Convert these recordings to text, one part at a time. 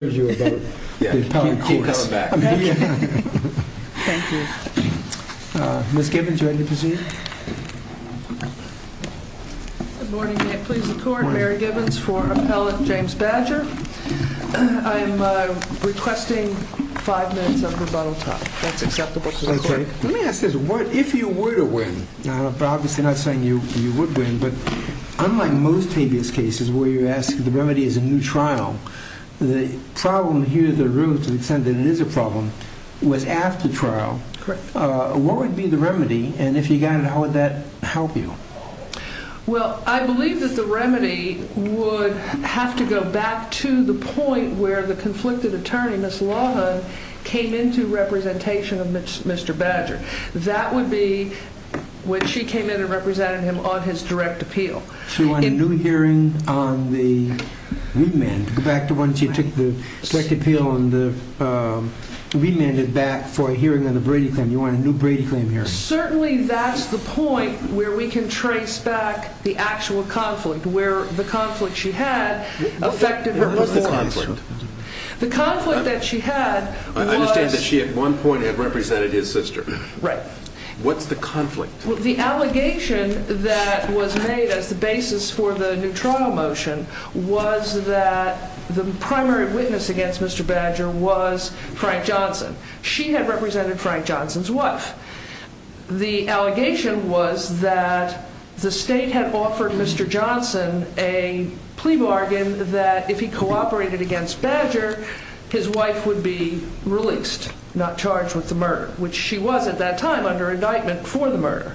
Appellant James Badger. I'm requesting five minutes of rebuttal time. That's acceptable to the court. Let me ask this. If you were to win, obviously I'm not saying you would win, but unlike most habeas cases where you're asked if the remedy is a new trial, the problem here in the room, to the extent that it is a problem, was after trial. Correct. What would be the remedy? And if you got it, how would that help you? Well, I believe that the remedy would have to go back to the point where the conflicted attorney, Ms. Lawhon, came into representation of Mr. Badger. That would be when she came in and represented him on his direct appeal. So you want a new hearing on the remand? Go back to when she took the direct appeal and remanded back for a hearing on the Brady claim. You want a new Brady claim hearing? Certainly that's the point where we can trace back the actual conflict, where the conflict she had affected her performance. What was the conflict? The conflict that she had was... I understand that she at one point had represented his sister. Right. What's the conflict? The allegation that was made as the basis for the new trial motion was that the primary witness against Mr. Badger was Frank Johnson. She had represented Frank Johnson's wife. The allegation was that the state had offered Mr. Johnson a plea bargain that if he cooperated against Badger, his wife would be released, not charged with the murder, which she was at that time under indictment for the murder.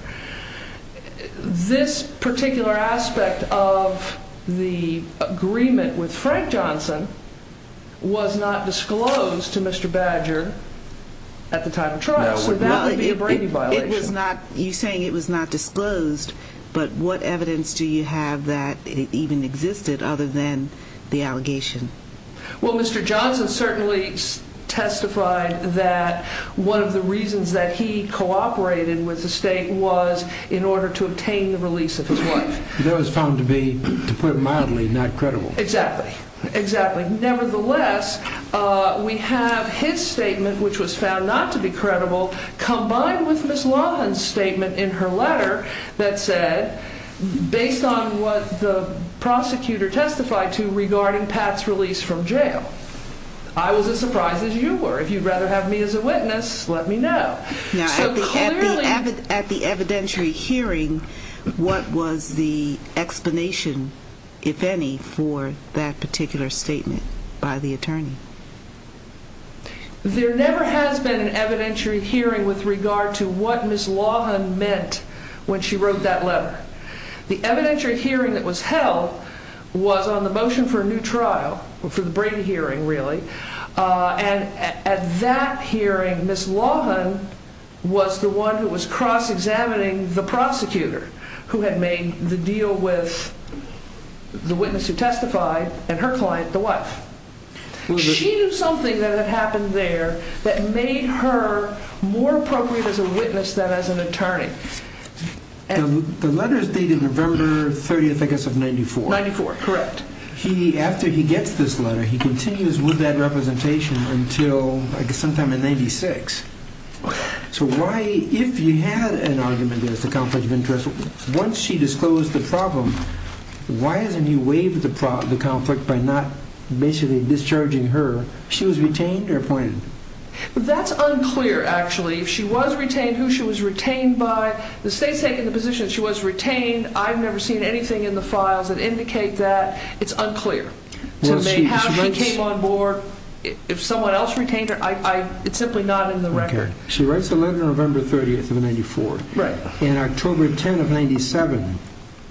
This particular aspect of the agreement with Frank Johnson was not disclosed to Mr. Badger at the time of trial. You're saying it was not disclosed, but what evidence do you have that it even existed other than the allegation? Well, Mr. Johnson certainly testified that one of the reasons that he cooperated with the state was in order to obtain the release of his wife. That was found to be, to put it mildly, not credible. Exactly, exactly. Nevertheless, we have his statement, which was found not to be credible, combined with Ms. Lawhon's statement in her letter that said, based on what the prosecutor testified to regarding Pat's release from jail, I was as surprised as you were. If you'd rather have me as a witness, let me know. At the evidentiary hearing, what was the explanation, if any, for that particular statement by the attorney? There never has been an evidentiary hearing with regard to what Ms. Lawhon meant when she wrote that letter. The evidentiary hearing that was held was on the motion for a new trial, for the Brady hearing, really. And at that hearing, Ms. Lawhon was the one who was cross-examining the prosecutor who had made the deal with the witness who testified and her client, the wife. She knew something that had happened there that made her more appropriate as a witness than as an attorney. The letter is dated November 30th, I guess, of 94. 94, correct. After he gets this letter, he continues with that representation until, I guess, sometime in 96. So why, if you had an argument against a conflict of interest, once she disclosed the problem, why isn't he waiving the conflict by not basically discharging her? She was retained or appointed? That's unclear, actually. If she was retained, who she was retained by, the state's taken the position she was retained. I've never seen anything in the files that indicate that. It's unclear to me how she came on board. If someone else retained her, it's simply not in the record. She writes the letter November 30th of 94. Right. In October 10 of 97,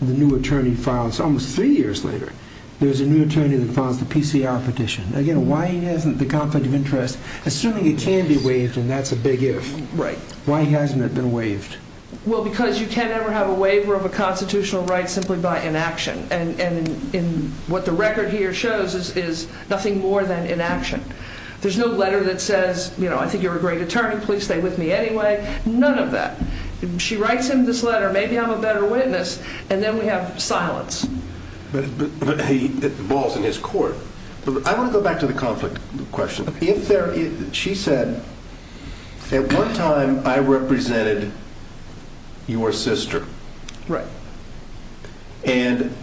the new attorney files, almost three years later, there's a new attorney that files the PCR petition. Again, why isn't the conflict of interest, assuming it can be waived and that's a big if, why hasn't it been waived? Well, because you can't ever have a waiver of a constitutional right simply by inaction. And what the record here shows is nothing more than inaction. There's no letter that says, you know, I think you're a great attorney, please stay with me anyway. None of that. She writes him this letter, maybe I'm a better witness, and then we have silence. But it balls in his court. I want to go back to the conflict question. She said, at one time I represented your sister. Right. And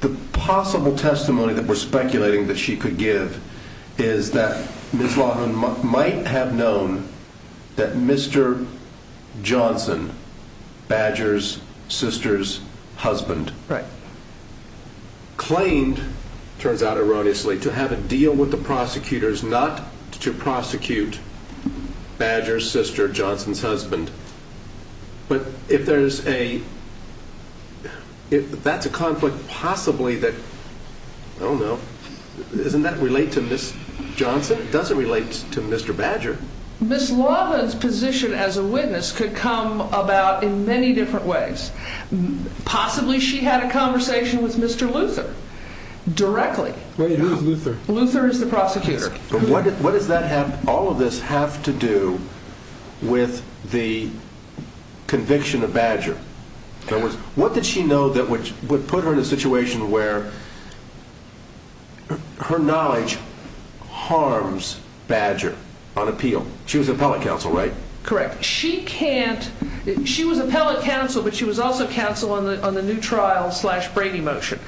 the possible testimony that we're speculating that she could give is that Ms. Laughlin might have known that Mr. Johnson, Badger's sister's husband, Right. Claimed, turns out erroneously, to have a deal with the prosecutors not to prosecute Badger's sister, Johnson's husband. But if there's a, that's a conflict possibly that, I don't know, doesn't that relate to Ms. Johnson? It doesn't relate to Mr. Badger. Ms. Laughlin's position as a witness could come about in many different ways. Possibly she had a conversation with Mr. Luther directly. Wait, who's Luther? Luther is the prosecutor. But what does that have, all of this have to do with the conviction of Badger? In other words, what did she know that would put her in a situation where her knowledge harms Badger on appeal? She was appellate counsel, right? Correct. She can't, she was appellate counsel but she was also counsel on the new trial slash Brady motion.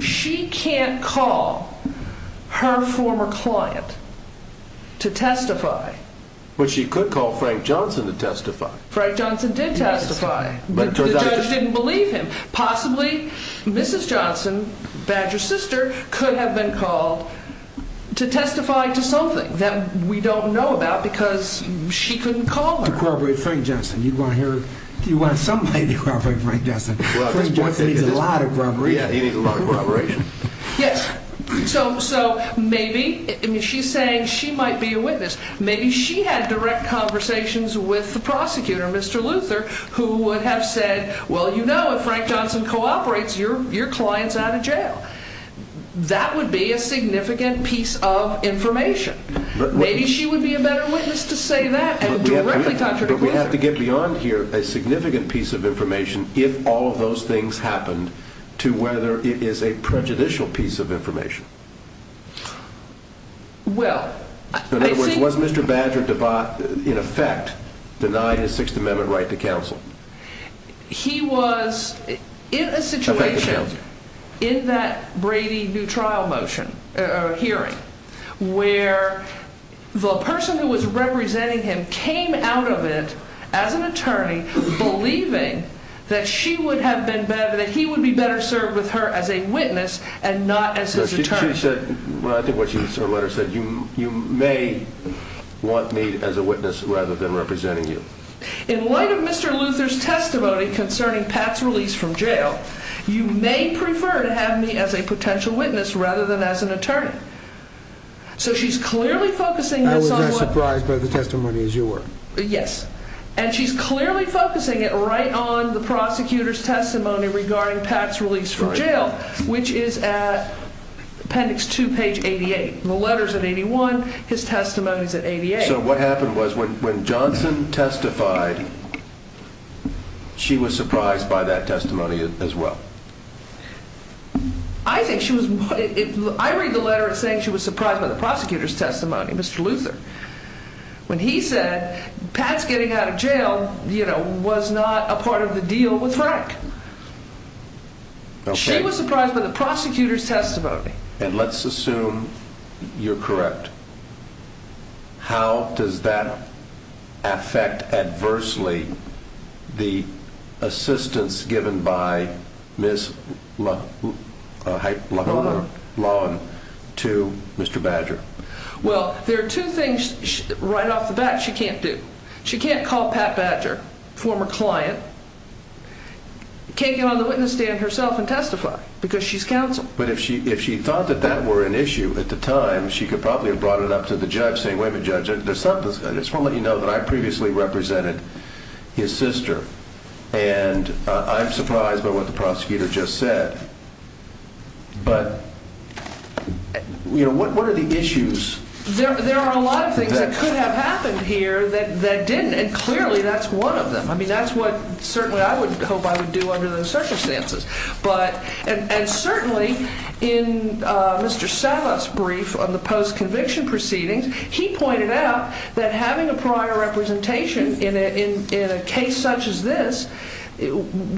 She can't call her former client to testify. But she could call Frank Johnson to testify. Frank Johnson did testify. Yes. But the judge didn't believe him. Possibly Mrs. Johnson, Badger's sister, could have been called to testify to something that we don't know about because she couldn't call her. You want to corroborate Frank Johnson, you want to hear, you want somebody to corroborate Frank Johnson. Frank Johnson needs a lot of corroboration. Yeah, he needs a lot of corroboration. Yes, so maybe, I mean she's saying she might be a witness. Maybe she had direct conversations with the prosecutor, Mr. Luther, who would have said, well you know if Frank Johnson cooperates your client's out of jail. That would be a significant piece of information. Maybe she would be a better witness to say that and directly talk to the prosecutor. But we have to get beyond here a significant piece of information if all of those things happened to whether it is a prejudicial piece of information. Well, I think. In other words, was Mr. Badger in effect denied his Sixth Amendment right to counsel? He was in a situation in that Brady new trial hearing where the person who was representing him came out of it as an attorney believing that she would have been better, that he would be better served with her as a witness and not as his attorney. She said, well I think what she said in her letter said, you may want me as a witness rather than representing you. In light of Mr. Luther's testimony concerning Pat's release from jail, you may prefer to have me as a potential witness rather than as an attorney. So she's clearly focusing this on what. I was not surprised by the testimony as you were. Yes, and she's clearly focusing it right on the prosecutor's testimony regarding Pat's release from jail, which is at appendix 2, page 88. The letter's at 81, his testimony's at 88. So what happened was when Johnson testified, she was surprised by that testimony as well. I think she was. I read the letter saying she was surprised by the prosecutor's testimony. Mr. Luther, when he said Pat's getting out of jail, you know, was not a part of the deal with Frank. She was surprised by the prosecutor's testimony. And let's assume you're correct. How does that affect adversely the assistance given by Ms. Loughran to Mr. Badger? Well, there are two things right off the bat she can't do. She can't call Pat Badger, former client, can't get on the witness stand herself and testify because she's counsel. But if she thought that that were an issue at the time, she could probably have brought it up to the judge saying, wait a minute, Judge, I just want to let you know that I previously represented his sister, and I'm surprised by what the prosecutor just said. But, you know, what are the issues? There are a lot of things that could have happened here that didn't, and clearly that's one of them. I mean, that's what certainly I would hope I would do under those circumstances. And certainly in Mr. Savas' brief on the post-conviction proceedings, he pointed out that having a prior representation in a case such as this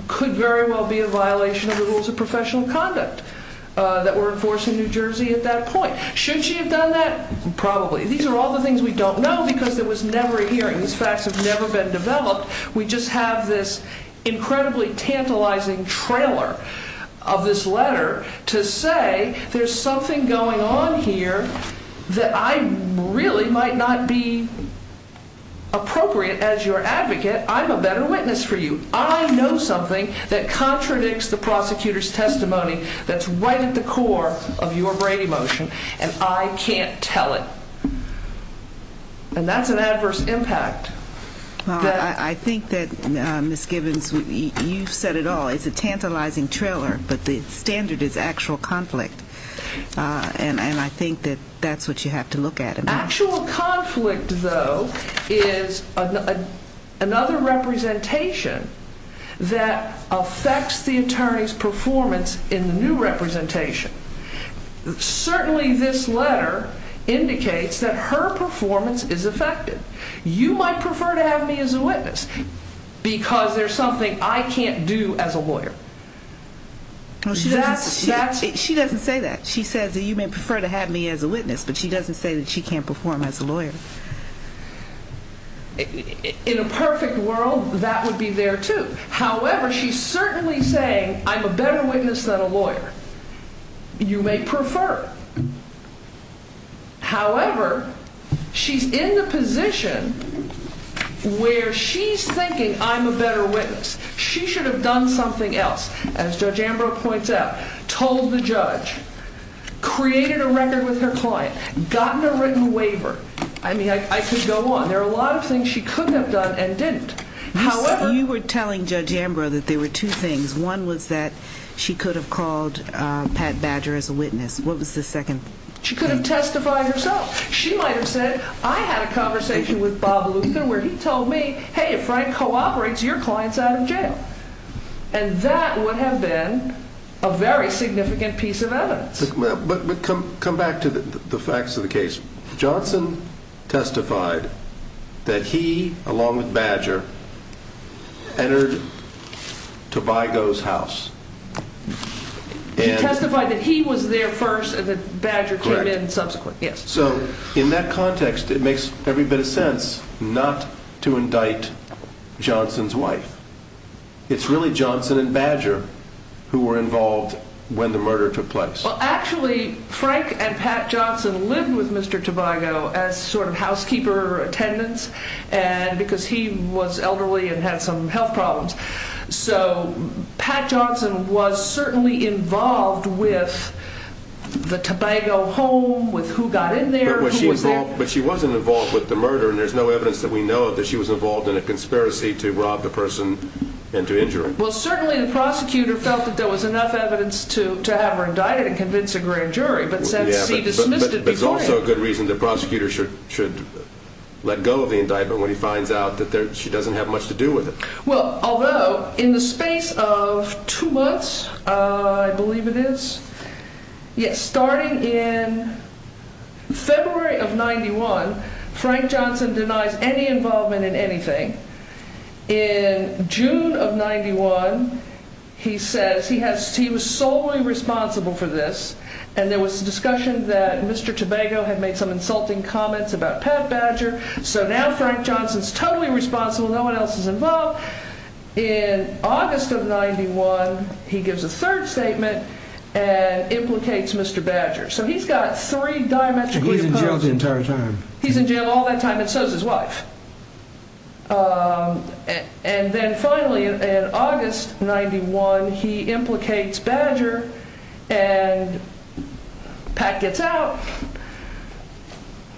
could very well be a violation of the rules of professional conduct that were in force in New Jersey at that point. Should she have done that? Probably. These are all the things we don't know because there was never a hearing. These facts have never been developed. We just have this incredibly tantalizing trailer of this letter to say there's something going on here that I really might not be appropriate as your advocate. I'm a better witness for you. I know something that contradicts the prosecutor's testimony that's right at the core of your Brady motion, and I can't tell it. And that's an adverse impact. Well, I think that, Ms. Gibbons, you've said it all. It's a tantalizing trailer, but the standard is actual conflict. And I think that that's what you have to look at. Actual conflict, though, is another representation that affects the attorney's performance in the new representation. Certainly this letter indicates that her performance is affected. You might prefer to have me as a witness because there's something I can't do as a lawyer. She doesn't say that. She says that you may prefer to have me as a witness, but she doesn't say that she can't perform as a lawyer. In a perfect world, that would be there, too. However, she's certainly saying I'm a better witness than a lawyer. You may prefer. However, she's in the position where she's thinking I'm a better witness. She should have done something else, as Judge Ambrose points out, told the judge, created a record with her client, gotten a written waiver. I mean, I could go on. There are a lot of things she could have done and didn't. You were telling Judge Ambrose that there were two things. One was that she could have called Pat Badger as a witness. What was the second thing? She could have testified herself. She might have said I had a conversation with Bob Luther where he told me, hey, if Frank cooperates, your client's out of jail. And that would have been a very significant piece of evidence. But come back to the facts of the case. Johnson testified that he, along with Badger, entered Tobago's house. He testified that he was there first and that Badger came in subsequent. So in that context, it makes every bit of sense not to indict Johnson's wife. It's really Johnson and Badger who were involved when the murder took place. Actually, Frank and Pat Johnson lived with Mr. Tobago as sort of housekeeper attendants because he was elderly and had some health problems. So Pat Johnson was certainly involved with the Tobago home, with who got in there, who was there. But she wasn't involved with the murder, and there's no evidence that we know of that she was involved in a conspiracy to rob the person and to injure him. Well, certainly the prosecutor felt that there was enough evidence to have her indicted and convince a grand jury, but since he dismissed it before him. But there's also a good reason the prosecutor should let go of the indictment when he finds out that she doesn't have much to do with it. Well, although in the space of two months, I believe it is, yes, starting in February of 91, Frank Johnson denies any involvement in anything. In June of 91, he says he was solely responsible for this, and there was discussion that Mr. Tobago had made some insulting comments about Pat Badger. So now Frank Johnson is totally responsible. No one else is involved. In August of 91, he gives a third statement and implicates Mr. Badger. So he's got three diametrically opposed. He's in jail the entire time. He's in jail all that time, and so is his wife. And then finally in August of 91, he implicates Badger, and Pat gets out.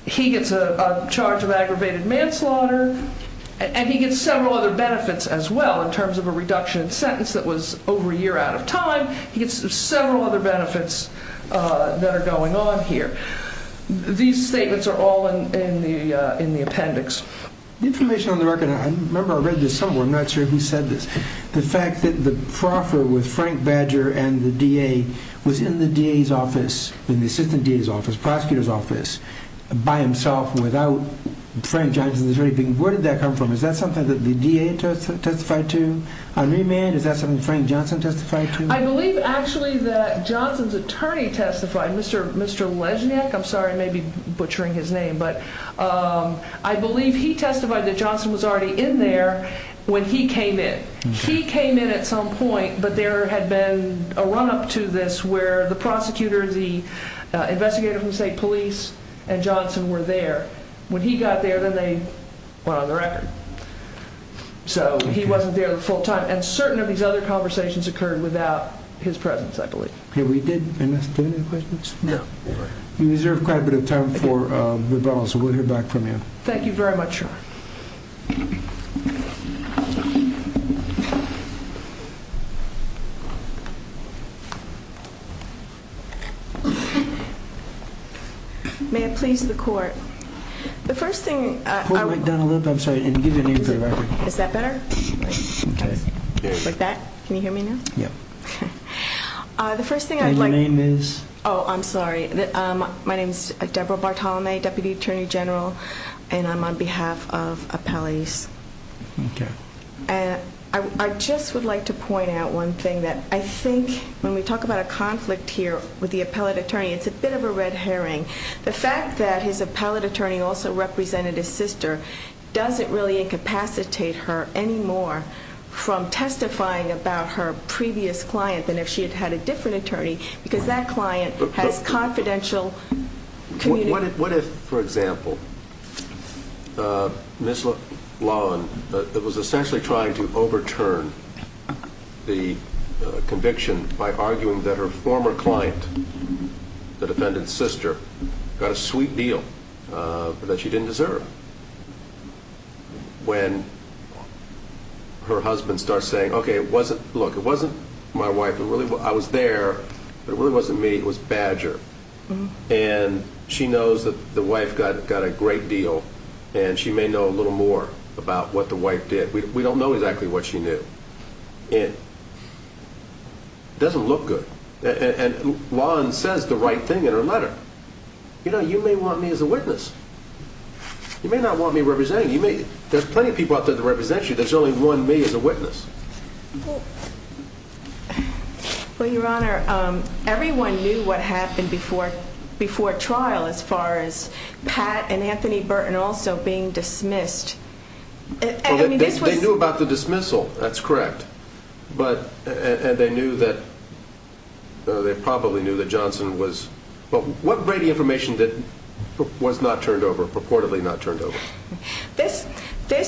He gets charged with aggravated manslaughter, and he gets several other benefits as well in terms of a reduction in sentence that was over a year out of time. He gets several other benefits that are going on here. These statements are all in the appendix. The information on the record, I remember I read this somewhere. I'm not sure who said this. The fact that the proffer with Frank Badger and the DA was in the DA's office, in the assistant DA's office, prosecutor's office, by himself, without Frank Johnson's attorney being there. Where did that come from? Is that something that the DA testified to on remand? Is that something Frank Johnson testified to? I believe actually that Johnson's attorney testified, Mr. Lesnik. I'm sorry, I may be butchering his name. I believe he testified that Johnson was already in there when he came in. He came in at some point, but there had been a run-up to this where the prosecutor, the investigator from the state police, and Johnson were there. When he got there, then they went on the record. So he wasn't there the full time. And certain of these other conversations occurred without his presence, I believe. Did we miss any questions? No. We deserve quite a bit of time for rebuttals, so we'll hear back from you. Thank you very much, Sean. May it please the court. The first thing I would like to say, and give your name for the record. Is that better? Okay. Like that? Can you hear me now? Yeah. And your name is? Oh, I'm sorry. My name is Deborah Bartolome, Deputy Attorney General, and I'm on behalf of Appellees. Okay. And I just would like to point out one thing, that I think when we talk about a conflict here with the appellate attorney, it's a bit of a red herring. The fact that his appellate attorney also represented his sister doesn't really incapacitate her anymore from testifying about her previous client than if she had had a different attorney because that client has confidential communication. What if, for example, Ms. Laughlin was essentially trying to overturn the conviction by arguing that her former client, the defendant's sister, got a sweet deal that she didn't deserve when her husband starts saying, Okay, look, it wasn't my wife. I was there, but it really wasn't me. It was Badger. And she knows that the wife got a great deal, and she may know a little more about what the wife did. We don't know exactly what she knew. It doesn't look good. And Laughlin says the right thing in her letter. You know, you may want me as a witness. You may not want me representing you. There's plenty of people out there to represent you. But there's only one me as a witness. Well, Your Honor, everyone knew what happened before trial as far as Pat and Anthony Burton also being dismissed. They knew about the dismissal. That's correct. And they probably knew that Johnson was... What Brady information was not turned over, purportedly not turned over? This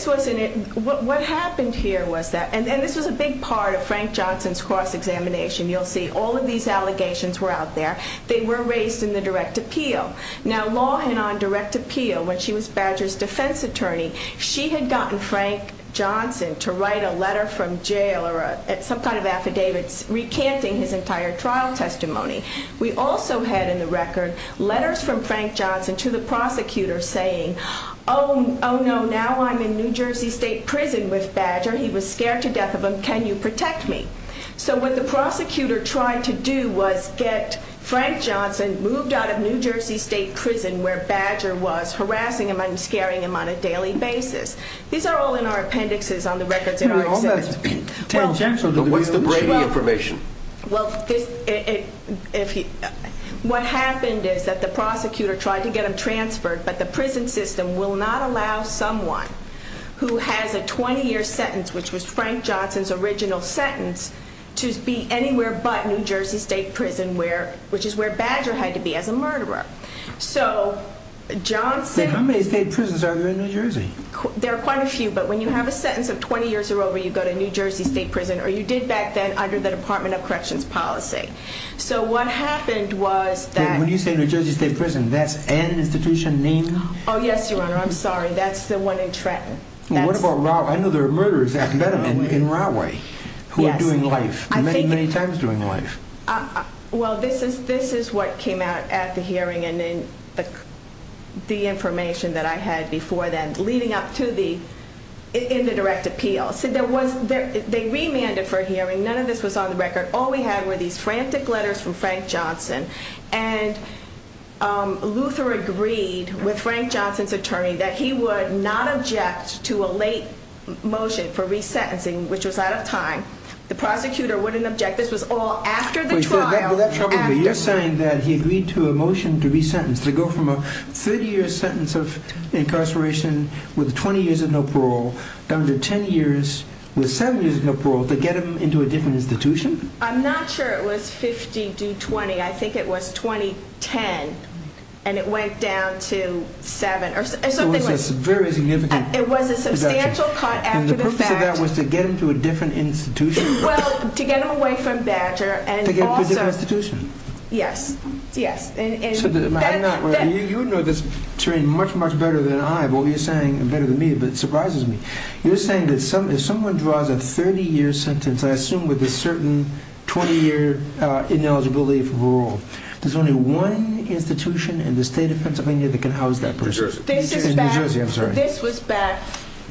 was in it... What happened here was that... And this was a big part of Frank Johnson's cross-examination. You'll see all of these allegations were out there. They were raised in the direct appeal. Now, law had on direct appeal when she was Badger's defense attorney. She had gotten Frank Johnson to write a letter from jail or some kind of affidavit recanting his entire trial testimony. We also had in the record letters from Frank Johnson to the prosecutor saying, Oh, no, now I'm in New Jersey State Prison with Badger. He was scared to death of him. Can you protect me? So what the prosecutor tried to do was get Frank Johnson moved out of New Jersey State Prison where Badger was, harassing him and scaring him on a daily basis. These are all in our appendixes on the records in our exhibit. But what's the Brady information? Well, what happened is that the prosecutor tried to get him transferred, but the prison system will not allow someone who has a 20-year sentence, which was Frank Johnson's original sentence, to be anywhere but New Jersey State Prison, which is where Badger had to be as a murderer. How many state prisons are there in New Jersey? There are quite a few, but when you have a sentence of 20 years or over, you go to New Jersey State Prison, or you did back then under the Department of Corrections policy. So what happened was that... When you say New Jersey State Prison, that's an institution? Name? Oh, yes, Your Honor, I'm sorry. That's the one in Trenton. What about Rahway? I know there are murderers in Rahway who are doing life, many, many times doing life. Well, this is what came out at the hearing and in the information that I had before then, leading up to the indirect appeal. They remanded for a hearing. None of this was on the record. All we had were these frantic letters from Frank Johnson, and Luther agreed with Frank Johnson's attorney that he would not object to a late motion for resentencing, which was out of time. The prosecutor wouldn't object. This was all after the trial. But you're saying that he agreed to a motion to resentence, to go from a 30-year sentence of incarceration with 20 years of no parole down to 10 years with 7 years of no parole to get him into a different institution? I'm not sure it was 50 to 20. I think it was 20-10, and it went down to 7. So it was a very significant reduction. It was a substantial cut after the fact. And the purpose of that was to get him to a different institution? Well, to get him away from Badger and also... To get him to a different institution? Yes. Yes. You know this terrain much, much better than I, but what you're saying is better than me, but it surprises me. You're saying that if someone draws a 30-year sentence, I assume with a certain 20-year ineligibility for parole, there's only one institution in the state of Pennsylvania that can house that person? New Jersey. In New Jersey, I'm sorry. This was back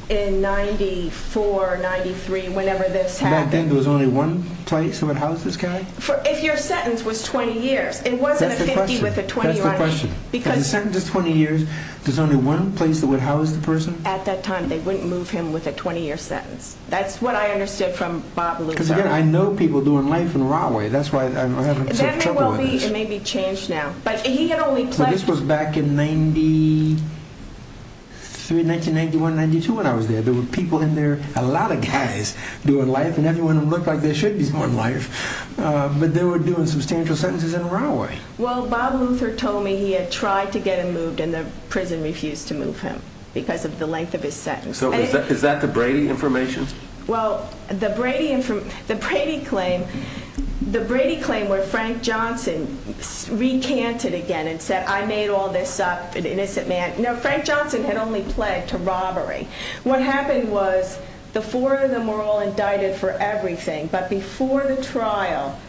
in 94, 93, whenever this happened. Back then, there was only one place that would house this guy? If your sentence was 20 years, it wasn't a 50 with a 20 on it. That's the question. Because... If the sentence is 20 years, there's only one place that would house the person? At that time, they wouldn't move him with a 20-year sentence. That's what I understood from Bob Louie. Because, again, I know people doing life in the wrong way. That's why I'm having trouble with this. It may be changed now. But he had only pledged... But this was back in 93, 1991, 1992 when I was there. There were people in there, a lot of guys doing life, and everyone looked like they should be doing life. But they were doing substantial sentences in the wrong way. Well, Bob Luther told me he had tried to get him moved, and the prison refused to move him because of the length of his sentence. Is that the Brady information? Well, the Brady claim where Frank Johnson recanted again and said, I made all this up, an innocent man. No, Frank Johnson had only pledged to robbery. What happened was the four of them were all indicted for everything. But before the trial,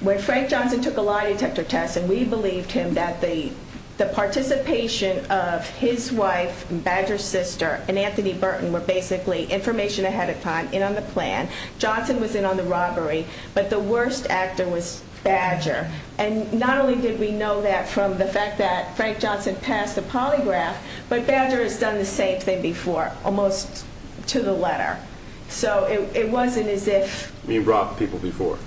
when Frank Johnson took a lie detector test, and we believed him that the participation of his wife, Badger's sister, and Anthony Burton were basically information ahead of time, in on the plan, Johnson was in on the robbery, but the worst actor was Badger. And not only did we know that from the fact that Frank Johnson passed the polygraph, but Badger has done the same thing before, almost to the letter. So it wasn't as if... He robbed people before.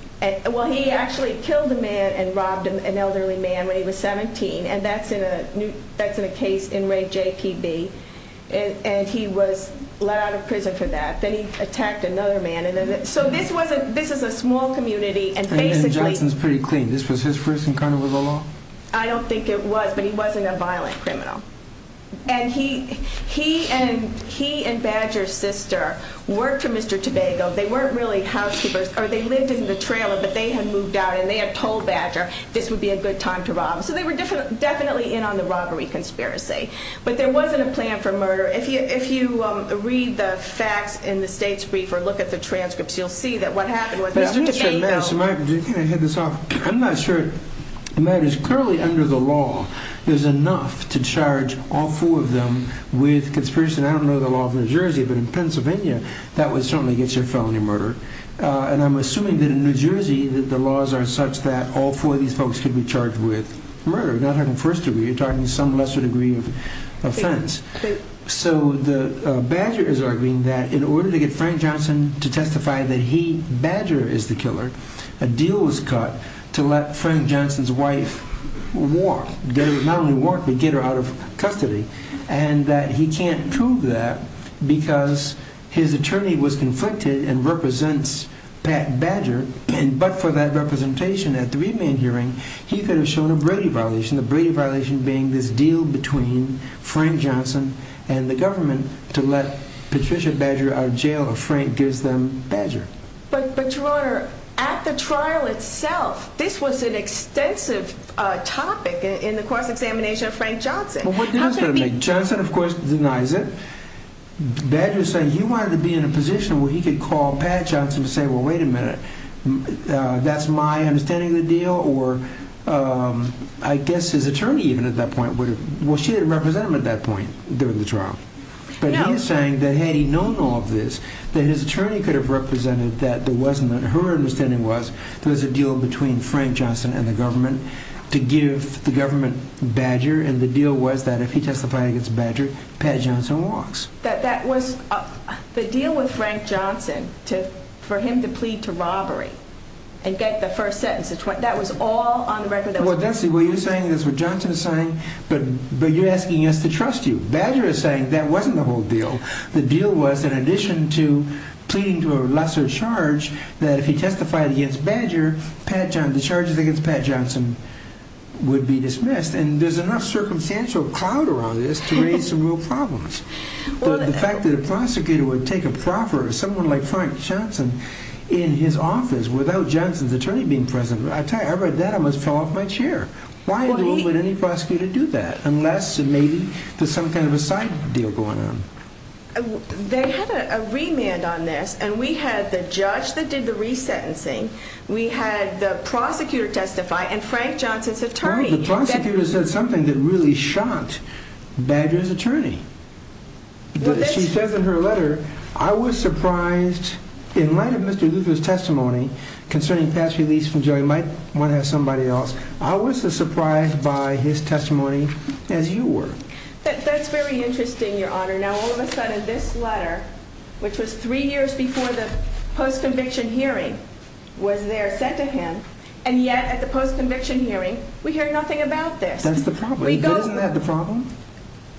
Well, he actually killed a man and robbed an elderly man when he was 17, and that's in a case in rape JPB. And he was let out of prison for that. Then he attacked another man. So this is a small community, and basically... And Johnson's pretty clean. This was his first encounter with the law? I don't think it was, but he wasn't a violent criminal. And he and Badger's sister worked for Mr. Tobago. They weren't really housekeepers, or they lived in the trailer, but they had moved out and they had told Badger this would be a good time to rob. So they were definitely in on the robbery conspiracy. But there wasn't a plan for murder. If you read the facts in the state's brief or look at the transcripts, you'll see that what happened was... Do you think I hit this off? I'm not sure. The matter is clearly under the law, there's enough to charge all four of them with conspiracy. And I don't know the law of New Jersey, but in Pennsylvania, that would certainly get you a felony murder. And I'm assuming that in New Jersey, the laws are such that all four of these folks could be charged with murder, not having first degree. You're talking some lesser degree of offense. So Badger is arguing that in order to get Frank Johnson to testify that he, Badger, is the killer, a deal was cut to let Frank Johnson's wife walk. Not only walk, but get her out of custody. And he can't prove that because his attorney was conflicted and represents Pat Badger. But for that representation at the remand hearing, he could have shown a Brady violation, the Brady violation being this deal between Frank Johnson and the government to let Patricia Badger out of jail if Frank gives them Badger. But, Your Honor, at the trial itself, this was an extensive topic in the cross-examination of Frank Johnson. Well, what difference does it make? Johnson, of course, denies it. Badger is saying he wanted to be in a position where he could call Pat Johnson and say, well, wait a minute, that's my understanding of the deal? Or I guess his attorney, even at that point, well, she didn't represent him at that point during the trial. But he is saying that had he known all of this, that his attorney could have represented that there wasn't, her understanding was there was a deal between Frank Johnson and the government to give the government Badger, and the deal was that if he testified against Badger, Pat Johnson walks. That was the deal with Frank Johnson, for him to plead to robbery and get the first sentence, that was all on the record? Well, that's what you're saying, that's what Johnson is saying, but you're asking us to trust you. Badger is saying that wasn't the whole deal. The deal was, in addition to pleading to a lesser charge, that if he testified against Badger, the charges against Pat Johnson would be dismissed. And there's enough circumstantial clout around this to raise some real problems. The fact that a prosecutor would take a proffer, someone like Frank Johnson, in his office without Johnson's attorney being present, I tell you, I read that, I almost fell off my chair. Why would any prosecutor do that, unless maybe there's some kind of a side deal going on? They had a remand on this, and we had the judge that did the resentencing, we had the prosecutor testify, and Frank Johnson's attorney. Well, the prosecutor said something that really shocked Badger's attorney. She says in her letter, I was surprised in light of Mr. Luther's testimony concerning Pat's release from jail, he might want to have somebody else. I was as surprised by his testimony as you were. That's very interesting, Your Honor. Now, all of a sudden, this letter, which was three years before the post-conviction hearing, was there sent to him, and yet at the post-conviction hearing, we hear nothing about this. That's the problem. Isn't that the problem?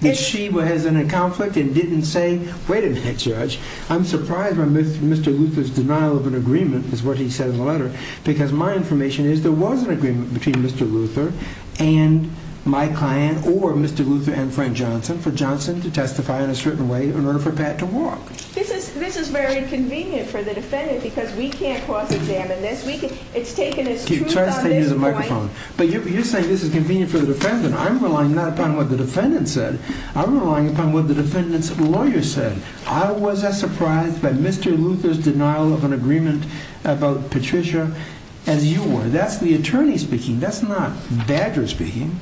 That she was in a conflict and didn't say, Wait a minute, Judge. I'm surprised by Mr. Luther's denial of an agreement, is what he said in the letter, because my information is there was an agreement between Mr. Luther and my client, or Mr. Luther and Frank Johnson, for Johnson to testify in a certain way in order for Pat to walk. This is very inconvenient for the defendant, because we can't cross-examine this. It's taken as truth on this point. But you're saying this is convenient for the defendant. I'm relying not upon what the defendant said. I'm relying upon what the defendant's lawyer said. I was as surprised by Mr. Luther's denial of an agreement about Patricia as you were. That's the attorney speaking. That's not Badger speaking.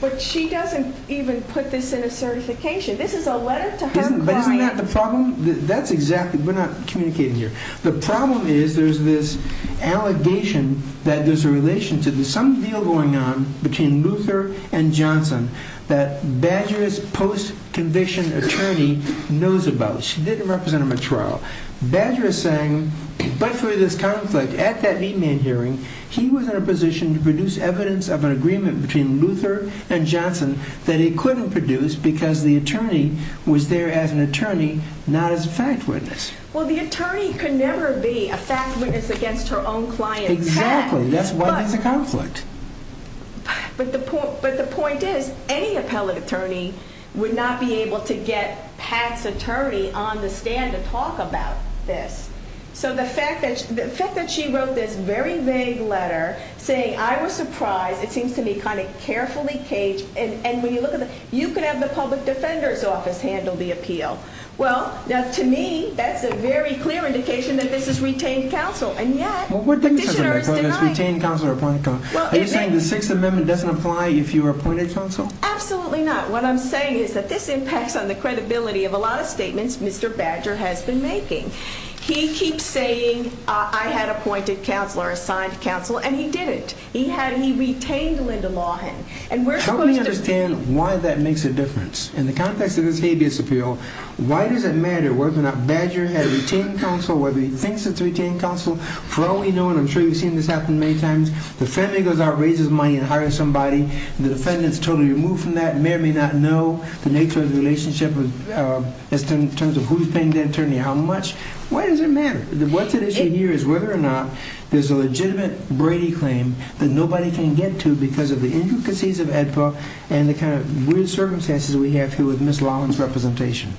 But she doesn't even put this in a certification. This is a letter to her client. But isn't that the problem? That's exactly it. We're not communicating here. The problem is there's this allegation that there's a relation to this, some deal going on between Luther and Johnson that Badger's post-conviction attorney knows about. She didn't represent him at trial. Badger is saying, but for this conflict, at that V-man hearing, he was in a position to produce evidence of an agreement between Luther and Johnson that he couldn't produce because the attorney was there as an attorney, not as a fact witness. Well, the attorney could never be a fact witness against her own client, Pat. Exactly. That's why there's a conflict. But the point is, any appellate attorney would not be able to get Pat's attorney on the stand to talk about this. So the fact that she wrote this very vague letter saying, I was surprised, it seems to me kind of carefully caged, and when you look at it, you could have the public defender's office handle the appeal. Well, to me, that's a very clear indication that this is retained counsel, and yet the petitioner is denying it. What do you mean? What do you mean it's retained counsel or appointed counsel? Are you saying the Sixth Amendment doesn't apply if you were appointed counsel? Absolutely not. What I'm saying is that this impacts on the credibility of a lot of statements Mr. Badger has been making. He keeps saying, I had appointed counsel or assigned counsel, and he didn't. He retained Linda Lawhan. Help me understand why that makes a difference. In the context of this habeas appeal, why does it matter whether or not Badger had retained counsel, whether he thinks it's retained counsel? For all we know, and I'm sure you've seen this happen many times, the family goes out, raises money, and hires somebody, and the defendant is totally removed from that, and may or may not know the nature of the relationship in terms of who's paying the attorney, how much. Why does it matter? What's at issue here is whether or not there's a legitimate Brady claim that nobody can get to because of the intricacies of AEDPA and the kind of weird circumstances we have here with Ms. Lawhan's representation.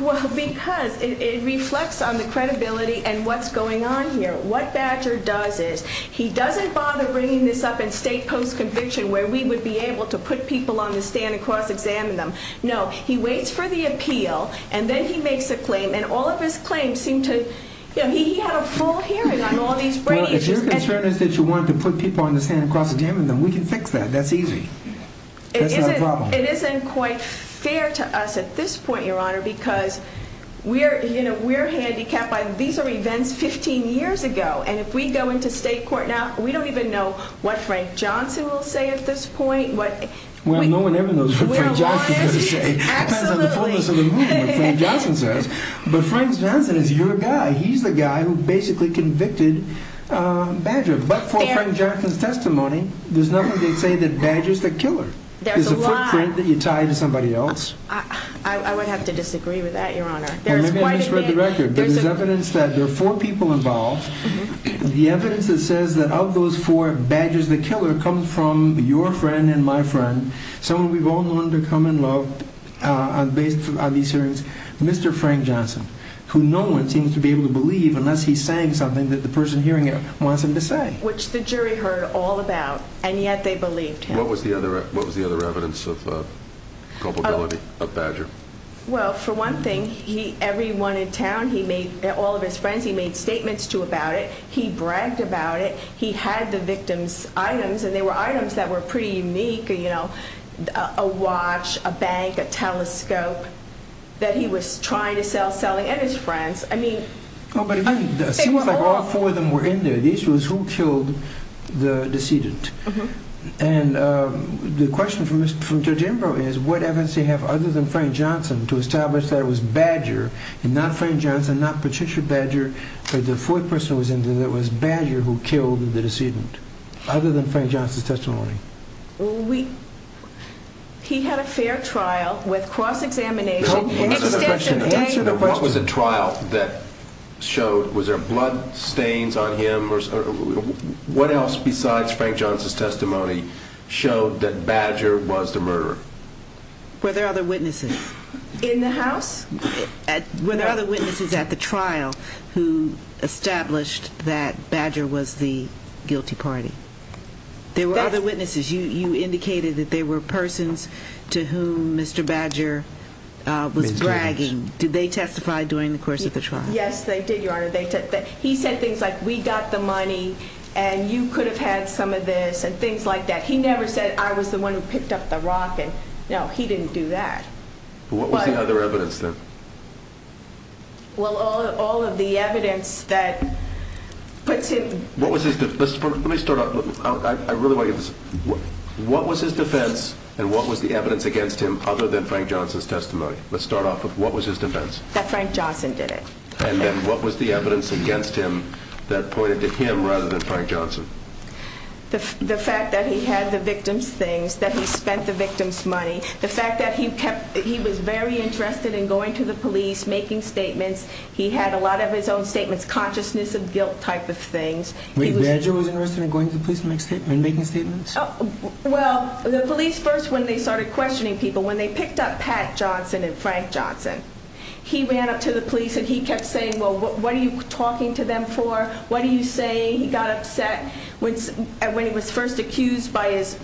Well, because it reflects on the credibility and what's going on here. What Badger does is, he doesn't bother bringing this up in state post-conviction where we would be able to put people on the stand and cross-examine them. No. He waits for the appeal, and then he makes a claim, and all of his claims seem to, you know, he had a full hearing on all these Brady cases. Well, if your concern is that you wanted to put people on the stand and cross-examine them, we can fix that. That's easy. That's not a problem. It isn't quite fair to us at this point, Your Honor, because, you know, we're handicapped. These are events 15 years ago, and if we go into state court now, we don't even know what Frank Johnson will say at this point. Well, no one ever knows what Frank Johnson's going to say. It depends on the fullness of the movement, Frank Johnson says. But Frank Johnson is your guy. He's the guy who basically convicted Badger. But for Frank Johnson's testimony, there's nothing to say that Badger's the killer. There's a footprint that you tie to somebody else. I would have to disagree with that, Your Honor. Maybe I misread the record, but there's evidence that there are four people involved. The evidence that says that of those four, Badger's the killer comes from your friend and my friend, someone we've all known to come and love based on these hearings, Mr. Frank Johnson, who no one seems to be able to believe unless he's saying something that the person hearing it wants him to say. Which the jury heard all about, and yet they believed him. What was the other evidence of culpability of Badger? Well, for one thing, everyone in town, all of his friends he made statements to about it. He bragged about it. He had the victim's items, and they were items that were pretty unique, you know, a watch, a bank, a telescope that he was trying to sell, selling, and his friends. It seems like all four of them were in there. The issue is who killed the decedent. And the question from Judge Imbro is what evidence do you have other than Frank Johnson to establish that it was Badger, and not Frank Johnson, not Patricia Badger, that the fourth person who was in there was Badger who killed the decedent? Other than Frank Johnson's testimony. He had a fair trial with cross-examination. Answer the question. Was there blood stains on him? What else besides Frank Johnson's testimony showed that Badger was the murderer? Were there other witnesses? In the house? Were there other witnesses at the trial who established that Badger was the guilty party? There were other witnesses. You indicated that there were persons to whom Mr. Badger was bragging. Did they testify during the course of the trial? Yes, they did, Your Honor. He said things like, we got the money, and you could have had some of this, and things like that. He never said, I was the one who picked up the rock. No, he didn't do that. What was the other evidence then? Well, all of the evidence that puts him. Let me start off. I really want to get this. What was his defense, and what was the evidence against him other than Frank Johnson's testimony? Let's start off with what was his defense? That Frank Johnson did it. And then what was the evidence against him that pointed to him rather than Frank Johnson? The fact that he had the victim's things, that he spent the victim's money. The fact that he was very interested in going to the police, making statements. He had a lot of his own statements, consciousness of guilt type of things. Wait, Badger was interested in going to the police and making statements? Well, the police first, when they started questioning people, when they picked up Pat Johnson and Frank Johnson, he ran up to the police and he kept saying, well, what are you talking to them for? What are you saying? He got upset. When he was first accused by his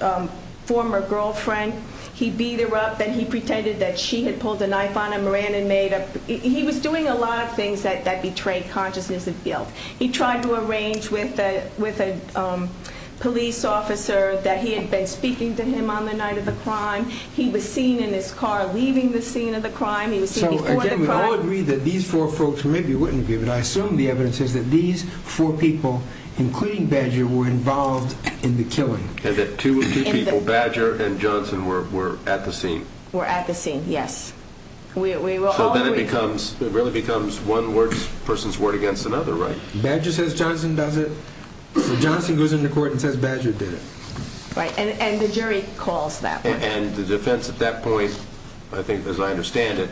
former girlfriend, he beat her up, and he pretended that she had pulled a knife on him, ran and made a, he was doing a lot of things that betrayed consciousness of guilt. He tried to arrange with a police officer that he had been speaking to him on the night of the crime. He was seen in his car leaving the scene of the crime. He was seen before the crime. So, again, we all agree that these four folks, maybe you wouldn't agree, but I assume the evidence is that these four people, including Badger, were involved in the killing. And that two people, Badger and Johnson, were at the scene. Were at the scene, yes. So then it becomes, it really becomes one person's word against another, right? Badger says Johnson does it. Johnson goes into court and says Badger did it. Right, and the jury calls that one. And the defense at that point, I think as I understand it,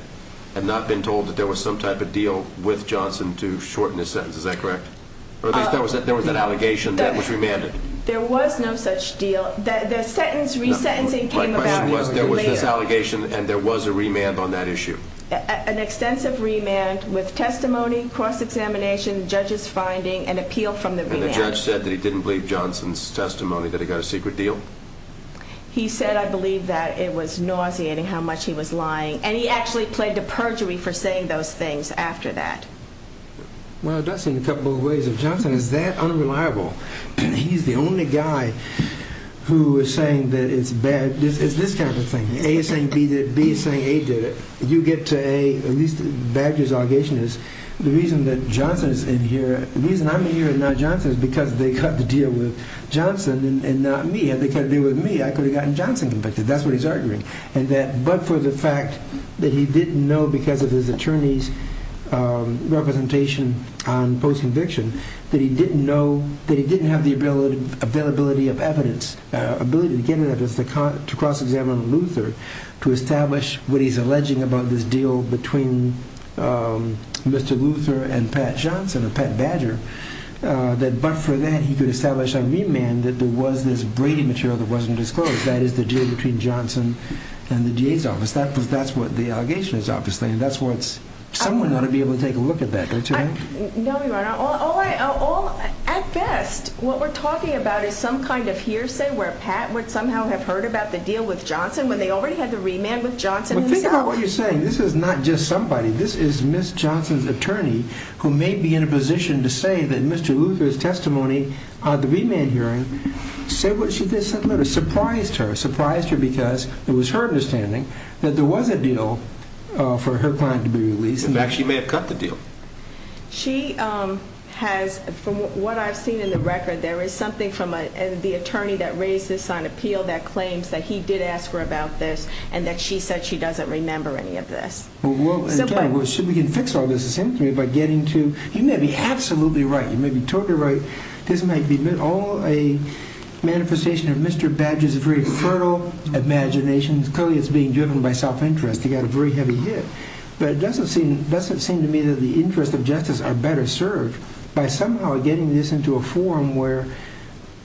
had not been told that there was some type of deal with Johnson to shorten his sentence. Is that correct? Or at least there was an allegation that was remanded. There was no such deal. The sentence resentencing came about later. There was this allegation and there was a remand on that issue. An extensive remand with testimony, cross-examination, judges finding, and appeal from the remand. And the judge said that he didn't believe Johnson's testimony, that he got a secret deal? He said, I believe, that it was nauseating how much he was lying. And he actually played to perjury for saying those things after that. Well, that's in a couple of ways. If Johnson is that unreliable, he's the only guy who is saying that it's bad. It's this kind of thing. A is saying B did it, B is saying A did it. You get to A, at least Badger's allegation is, the reason that Johnson is in here, the reason I'm in here and not Johnson is because they cut the deal with Johnson and not me. If they cut the deal with me, I could have gotten Johnson convicted. That's what he's arguing. But for the fact that he didn't know because of his attorney's representation on post-conviction that he didn't have the availability of evidence, the ability to cross-examine Luther, to establish what he's alleging about this deal between Mr. Luther and Pat Johnson, or Pat Badger, but for that he could establish a remand that there was this Brady material that wasn't disclosed. That is, the deal between Johnson and the DA's office. That's what the allegation is, obviously, and that's what someone ought to be able to take a look at that. No, Your Honor. At best, what we're talking about is some kind of hearsay where Pat would somehow have heard about the deal with Johnson when they already had the remand with Johnson himself. Well, think about what you're saying. This is not just somebody. This is Ms. Johnson's attorney who may be in a position to say that Mr. Luther's testimony at the remand hearing surprised her. It surprised her because it was her understanding that there was a deal for her client to be released. In fact, she may have cut the deal. She has, from what I've seen in the record, there is something from the attorney that raised this on appeal that claims that he did ask her about this and that she said she doesn't remember any of this. Well, we can fix all this, essentially, by getting to, you may be absolutely right, you may be totally right, this might be all a manifestation of Mr. Badger's very fertile imagination. Clearly, it's being driven by self-interest. He got a very heavy hit. But it doesn't seem to me that the interests of justice are better served by somehow getting this into a forum where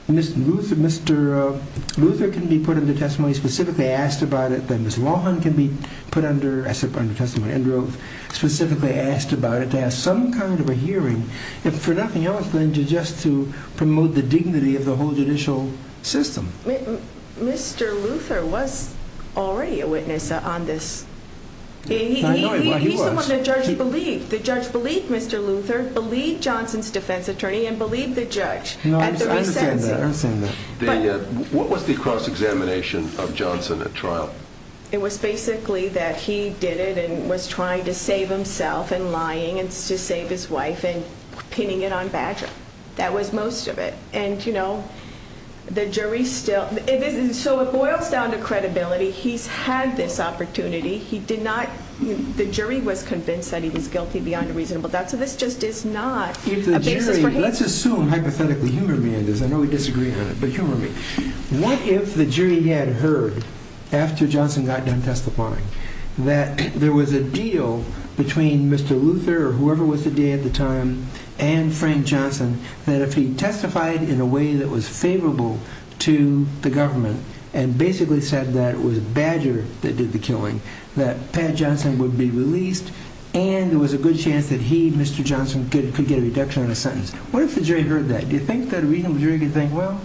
Mr. Luther can be put under testimony, specifically asked about it, that Ms. Lohan can be put under testimony, and specifically asked about it, to have some kind of a hearing, if for nothing else than just to promote the dignity of the whole judicial system. Mr. Luther was already a witness on this. I know he was. He's the one the judge believed. The judge believed Mr. Luther, believed Johnson's defense attorney, and believed the judge at the re-sentencing. I understand that. What was the cross-examination of Johnson at trial? It was basically that he did it and was trying to save himself and lying to save his wife and pinning it on Badger. That was most of it. So it boils down to credibility. He's had this opportunity. The jury was convinced that he was guilty beyond a reasonable doubt, so this just is not a basis for him. Let's assume, hypothetically, humor me on this. I know we disagree on it, but humor me. What if the jury had heard, after Johnson got done testifying, that there was a deal between Mr. Luther, or whoever was the DA at the time, and Frank Johnson, that if he testified in a way that was favorable to the government and basically said that it was Badger that did the killing, that Pat Johnson would be released and there was a good chance that he, Mr. Johnson, could get a reduction on his sentence? What if the jury heard that? Do you think that a reasonable jury could think, well,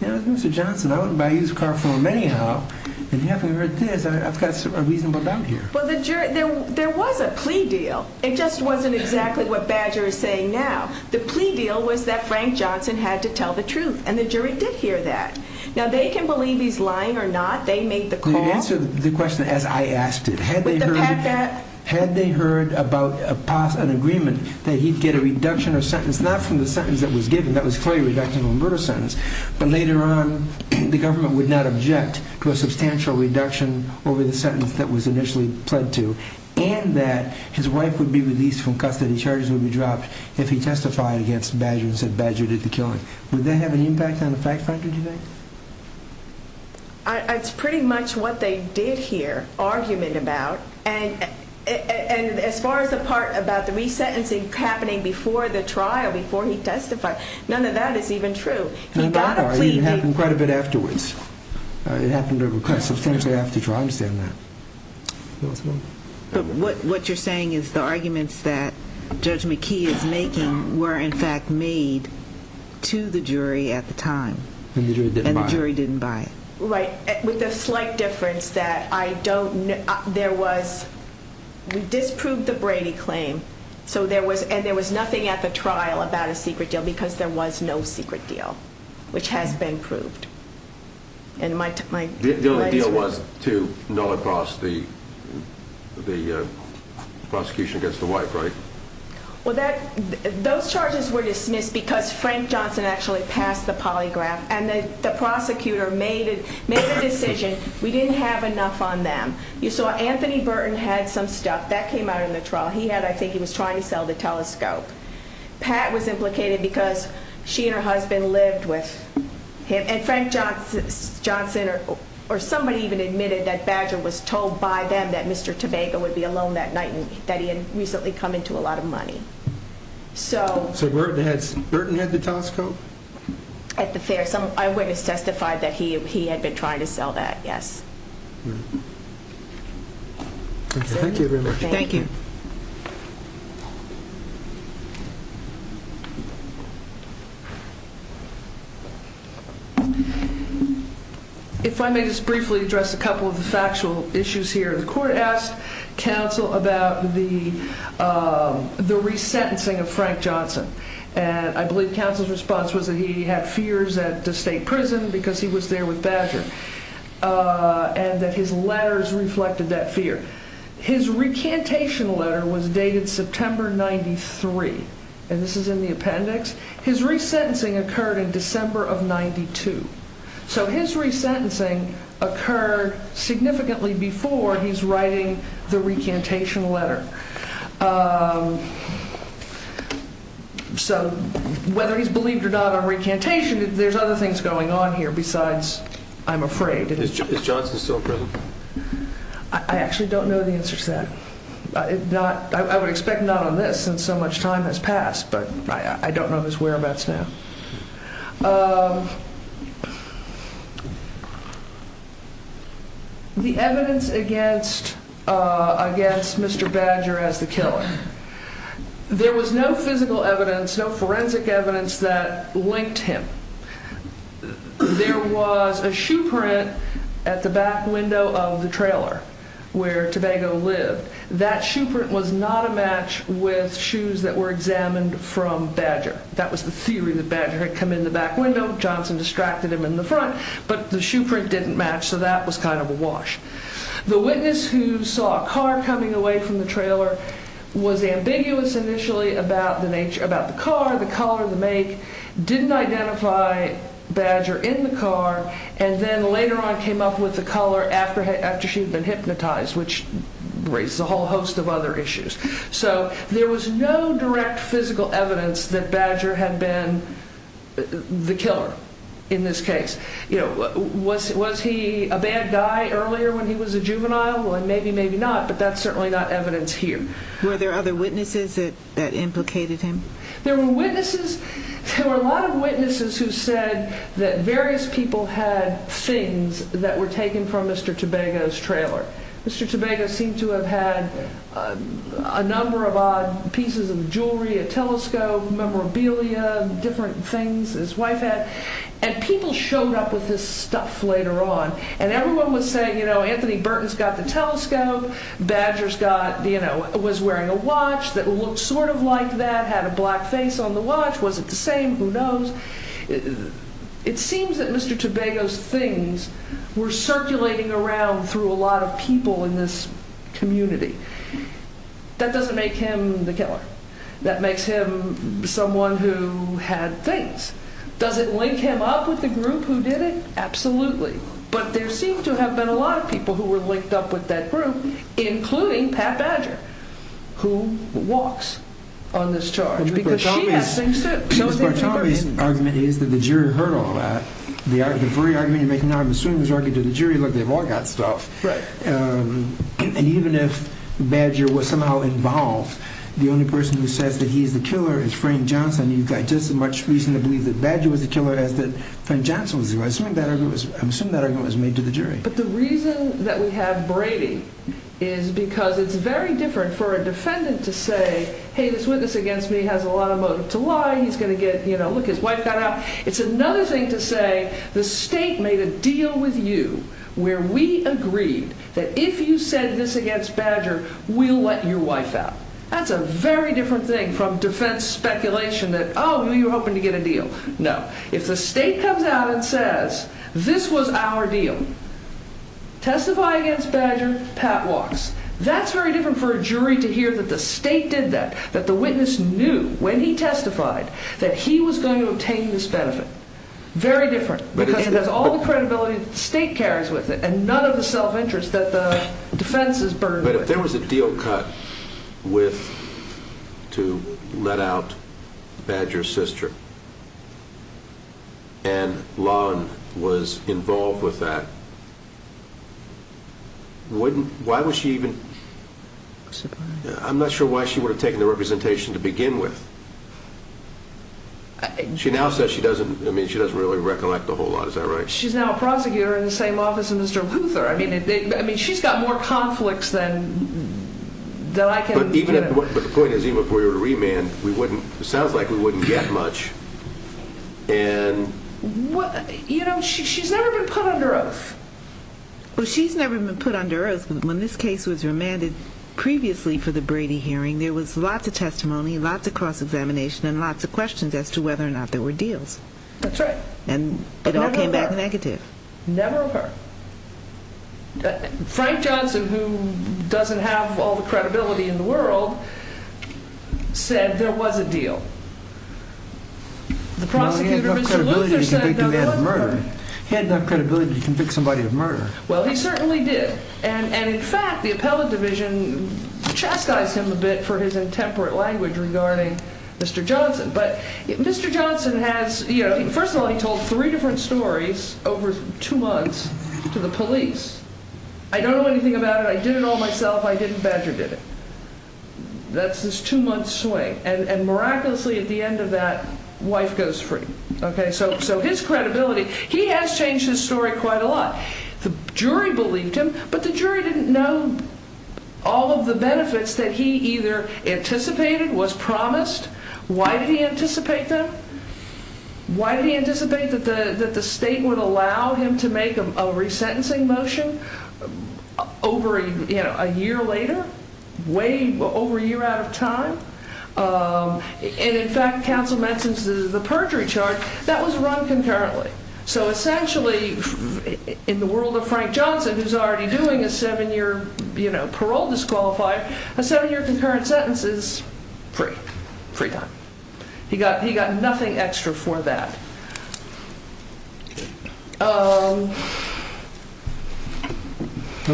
if it was Mr. Johnson, I wouldn't buy his car for him anyhow, and now that I've heard this, I've got a reasonable doubt here. Well, there was a plea deal. It just wasn't exactly what Badger is saying now. The plea deal was that Frank Johnson had to tell the truth, and the jury did hear that. Now, they can believe he's lying or not. They made the call. You'd answer the question as I asked it. Had they heard about an agreement that he'd get a reduction of sentence, not from the sentence that was given, that was clearly a reduction of a murder sentence, but later on the government would not object to a substantial reduction over the sentence that was initially pled to, and that his wife would be released from custody, charges would be dropped, if he testified against Badger and said Badger did the killing. Would that have an impact on the fact, Frank, did you think? It's pretty much what they did hear argument about, and as far as the part about the resentencing happening before the trial, before he testified, none of that is even true. He got a plea deal. It happened quite a bit afterwards. It happened at request. Sometimes they have to try to understand that. But what you're saying is the arguments that Judge McKee is making were in fact made to the jury at the time, and the jury didn't buy it. Right, with a slight difference that I don't know. There was, we disproved the Brady claim, and there was nothing at the trial about a secret deal because there was no secret deal, which has been proved. The only deal was to nullify the prosecution against the wife, right? Those charges were dismissed because Frank Johnson actually passed the polygraph, and the prosecutor made the decision we didn't have enough on them. You saw Anthony Burton had some stuff. That came out in the trial. He had, I think he was trying to sell the telescope. Pat was implicated because she and her husband lived with him, and Frank Johnson, or somebody even admitted that Badger was told by them that Mr. Tobago would be alone that night and that he had recently come into a lot of money. So Burton had the telescope? At the fair. I witnessed testified that he had been trying to sell that, yes. Thank you very much. Thank you. Thank you. If I may just briefly address a couple of the factual issues here. The court asked counsel about the resentencing of Frank Johnson, and I believe counsel's response was that he had fears at the state prison because he was there with Badger, and that his letters reflected that fear. His recantation letter was dated September 93, and this is in the appendix. His resentencing occurred in December of 92. So his resentencing occurred significantly before he's writing the recantation letter. So whether he's believed or not on recantation, there's other things going on here besides I'm afraid. Is Johnson still in prison? I actually don't know the answer to that. I would expect not on this since so much time has passed, but I don't know his whereabouts now. The evidence against Mr. Badger as the killer. There was no physical evidence, no forensic evidence that linked him. There was a shoe print at the back window of the trailer where Tobago lived. That shoe print was not a match with shoes that were examined from Badger. That was the theory that Badger had come in the back window. Johnson distracted him in the front, but the shoe print didn't match, so that was kind of a wash. The witness who saw a car coming away from the trailer was ambiguous initially about the car, the color, the make, didn't identify Badger in the car, and then later on came up with the color after she had been hypnotized, which raises a whole host of other issues. So there was no direct physical evidence that Badger had been the killer in this case. Was he a bad guy earlier when he was a juvenile? Well, maybe, maybe not, but that's certainly not evidence here. Were there other witnesses that implicated him? There were witnesses. There were a lot of witnesses who said that various people had things that were taken from Mr. Tobago's trailer. Mr. Tobago seemed to have had a number of odd pieces of jewelry, a telescope, memorabilia, different things his wife had. And people showed up with his stuff later on, and everyone was saying, you know, Anthony Burton's got the telescope, Badger was wearing a watch that looked sort of like that, had a black face on the watch. Was it the same? Who knows? It seems that Mr. Tobago's things were circulating around through a lot of people in this community. That doesn't make him the killer. That makes him someone who had things. Does it link him up with the group who did it? Absolutely. But there seemed to have been a lot of people who were linked up with that group, including Pat Badger, who walks on this charge because she has things, too. Mr. Bartomi's argument is that the jury heard all that. The very argument you're making now, I'm assuming, was arguing to the jury, look, they've all got stuff. And even if Badger was somehow involved, the only person who says that he's the killer is Frank Johnson. You've got just as much reason to believe that Badger was the killer as that Frank Johnson was the killer. I'm assuming that argument was made to the jury. But the reason that we have Brady is because it's very different for a defendant to say, hey, this witness against me has a lot of motive to lie. He's going to get, you know, look, his wife got out. It's another thing to say the state made a deal with you where we agreed that if you said this against Badger, we'll let your wife out. That's a very different thing from defense speculation that, oh, you were hoping to get a deal. No. If the state comes out and says this was our deal, testify against Badger, pat walks. That's very different for a jury to hear that the state did that, that the witness knew when he testified that he was going to obtain this benefit. Very different because it has all the credibility that the state carries with it and none of the self-interest that the defense is burdened with. If there was a deal cut to let out Badger's sister and Lon was involved with that, why would she even – I'm not sure why she would have taken the representation to begin with. She now says she doesn't – I mean, she doesn't really recollect a whole lot. Is that right? She's now a prosecutor in the same office as Mr. Luther. I mean, she's got more conflicts than I can – But the point is even if we were to remand, it sounds like we wouldn't get much. You know, she's never been put under oath. Well, she's never been put under oath. When this case was remanded previously for the Brady hearing, there was lots of testimony, lots of cross-examination, and lots of questions as to whether or not there were deals. That's right. And it all came back negative. Never of her. Frank Johnson, who doesn't have all the credibility in the world, said there was a deal. The prosecutor, Mr. Luther, said there couldn't be. He had enough credibility to convict somebody of murder. Well, he certainly did. And in fact, the appellate division chastised him a bit for his intemperate language regarding Mr. Johnson. But Mr. Johnson has – first of all, he told three different stories over two months to the police. I don't know anything about it. I did it all myself. I didn't badger did it. That's his two-month swing. And miraculously, at the end of that, wife goes free. So his credibility – he has changed his story quite a lot. The jury believed him, but the jury didn't know all of the benefits that he either anticipated, was promised, why did he anticipate them? Why did he anticipate that the state would allow him to make a resentencing motion over a year later? Way over a year out of time? And in fact, counsel mentions the perjury charge. That was run concurrently. So essentially, in the world of Frank Johnson, who's already doing a seven-year parole disqualifier, a seven-year concurrent sentence is free. Free time. He got nothing extra for that.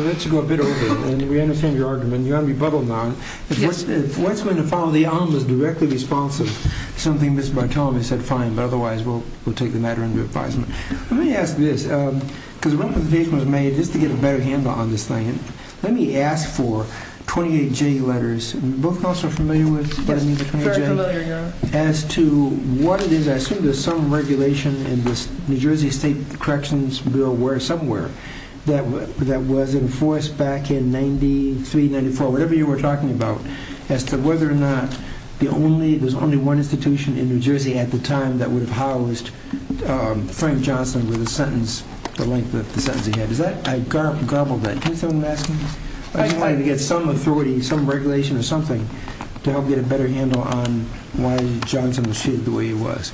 Let's go a bit over it. And we understand your argument. You've got to be bubbled now. If what's going to follow the arm was directly responsive to something Mr. Bartolomew said, fine. But otherwise, we'll take the matter into advisement. Let me ask this. Because one presentation was made just to get a better handle on this thing. Let me ask for 28J letters. Are you both counsel familiar with what I mean by 28J? Yes, very familiar, Your Honor. As to what it is, I assume there's some regulation in this New Jersey state corrections bill somewhere that was enforced back in 93, 94, whatever you were talking about, as to whether or not there's only one institution in New Jersey at the time that would have housed Frank Johnson with a sentence the length of the sentence he had. I garbled that. Can someone ask me? I just wanted to get some authority, some regulation or something, to help get a better handle on why Johnson was treated the way he was.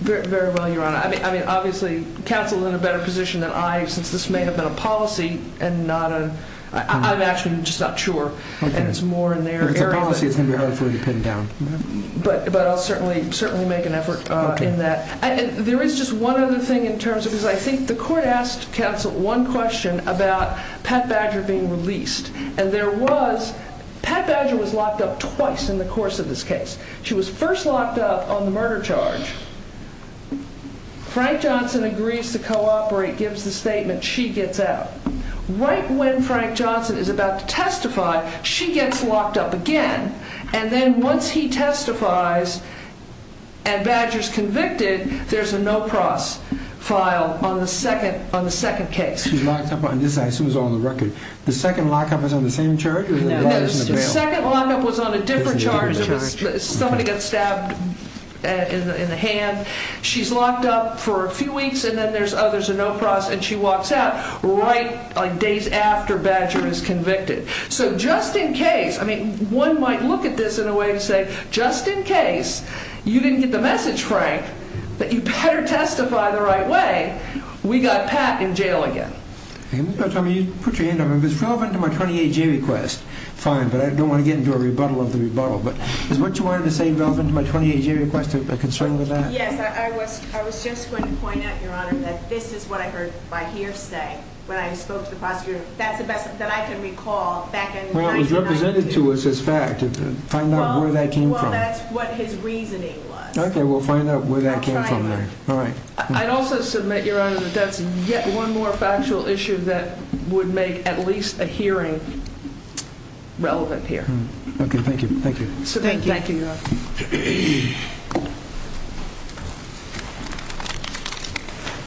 Very well, Your Honor. I mean, obviously, counsel is in a better position than I, since this may have been a policy, and I'm actually just not sure, and it's more in their area. If it's a policy, it's going to be hard for you to pin down. But I'll certainly make an effort in that. There is just one other thing in terms of this. I think the court asked counsel one question about Pat Badger being released, and there was Pat Badger was locked up twice in the course of this case. She was first locked up on the murder charge. Frank Johnson agrees to cooperate, gives the statement, she gets out. Right when Frank Johnson is about to testify, she gets locked up again, and then once he testifies and Badger's convicted, there's a no-pross file on the second case. She's locked up on this. I assume it's on the record. The second lockup was on the same charge? No, the second lockup was on a different charge. Somebody got stabbed in the hand. She's locked up for a few weeks, and then there's a no-pross, and she walks out right days after Badger is convicted. So just in case, I mean, one might look at this in a way to say, just in case you didn't get the message, Frank, that you better testify the right way, we got Pat in jail again. Put your hand up. It's relevant to my 28-G request. Fine, but I don't want to get into a rebuttal of the rebuttal, but is what you wanted to say relevant to my 28-G request, a concern with that? Yes, I was just going to point out, Your Honor, that this is what I heard by hearsay when I spoke to the prosecutor. That's the best that I can recall back in 1992. Well, it was represented to us as fact. Find out where that came from. Well, that's what his reasoning was. Okay, we'll find out where that came from then. All right. I'd also submit, Your Honor, that that's yet one more factual issue that would make at least a hearing relevant here. Okay, thank you, thank you. Thank you. Thank you, Your Honor.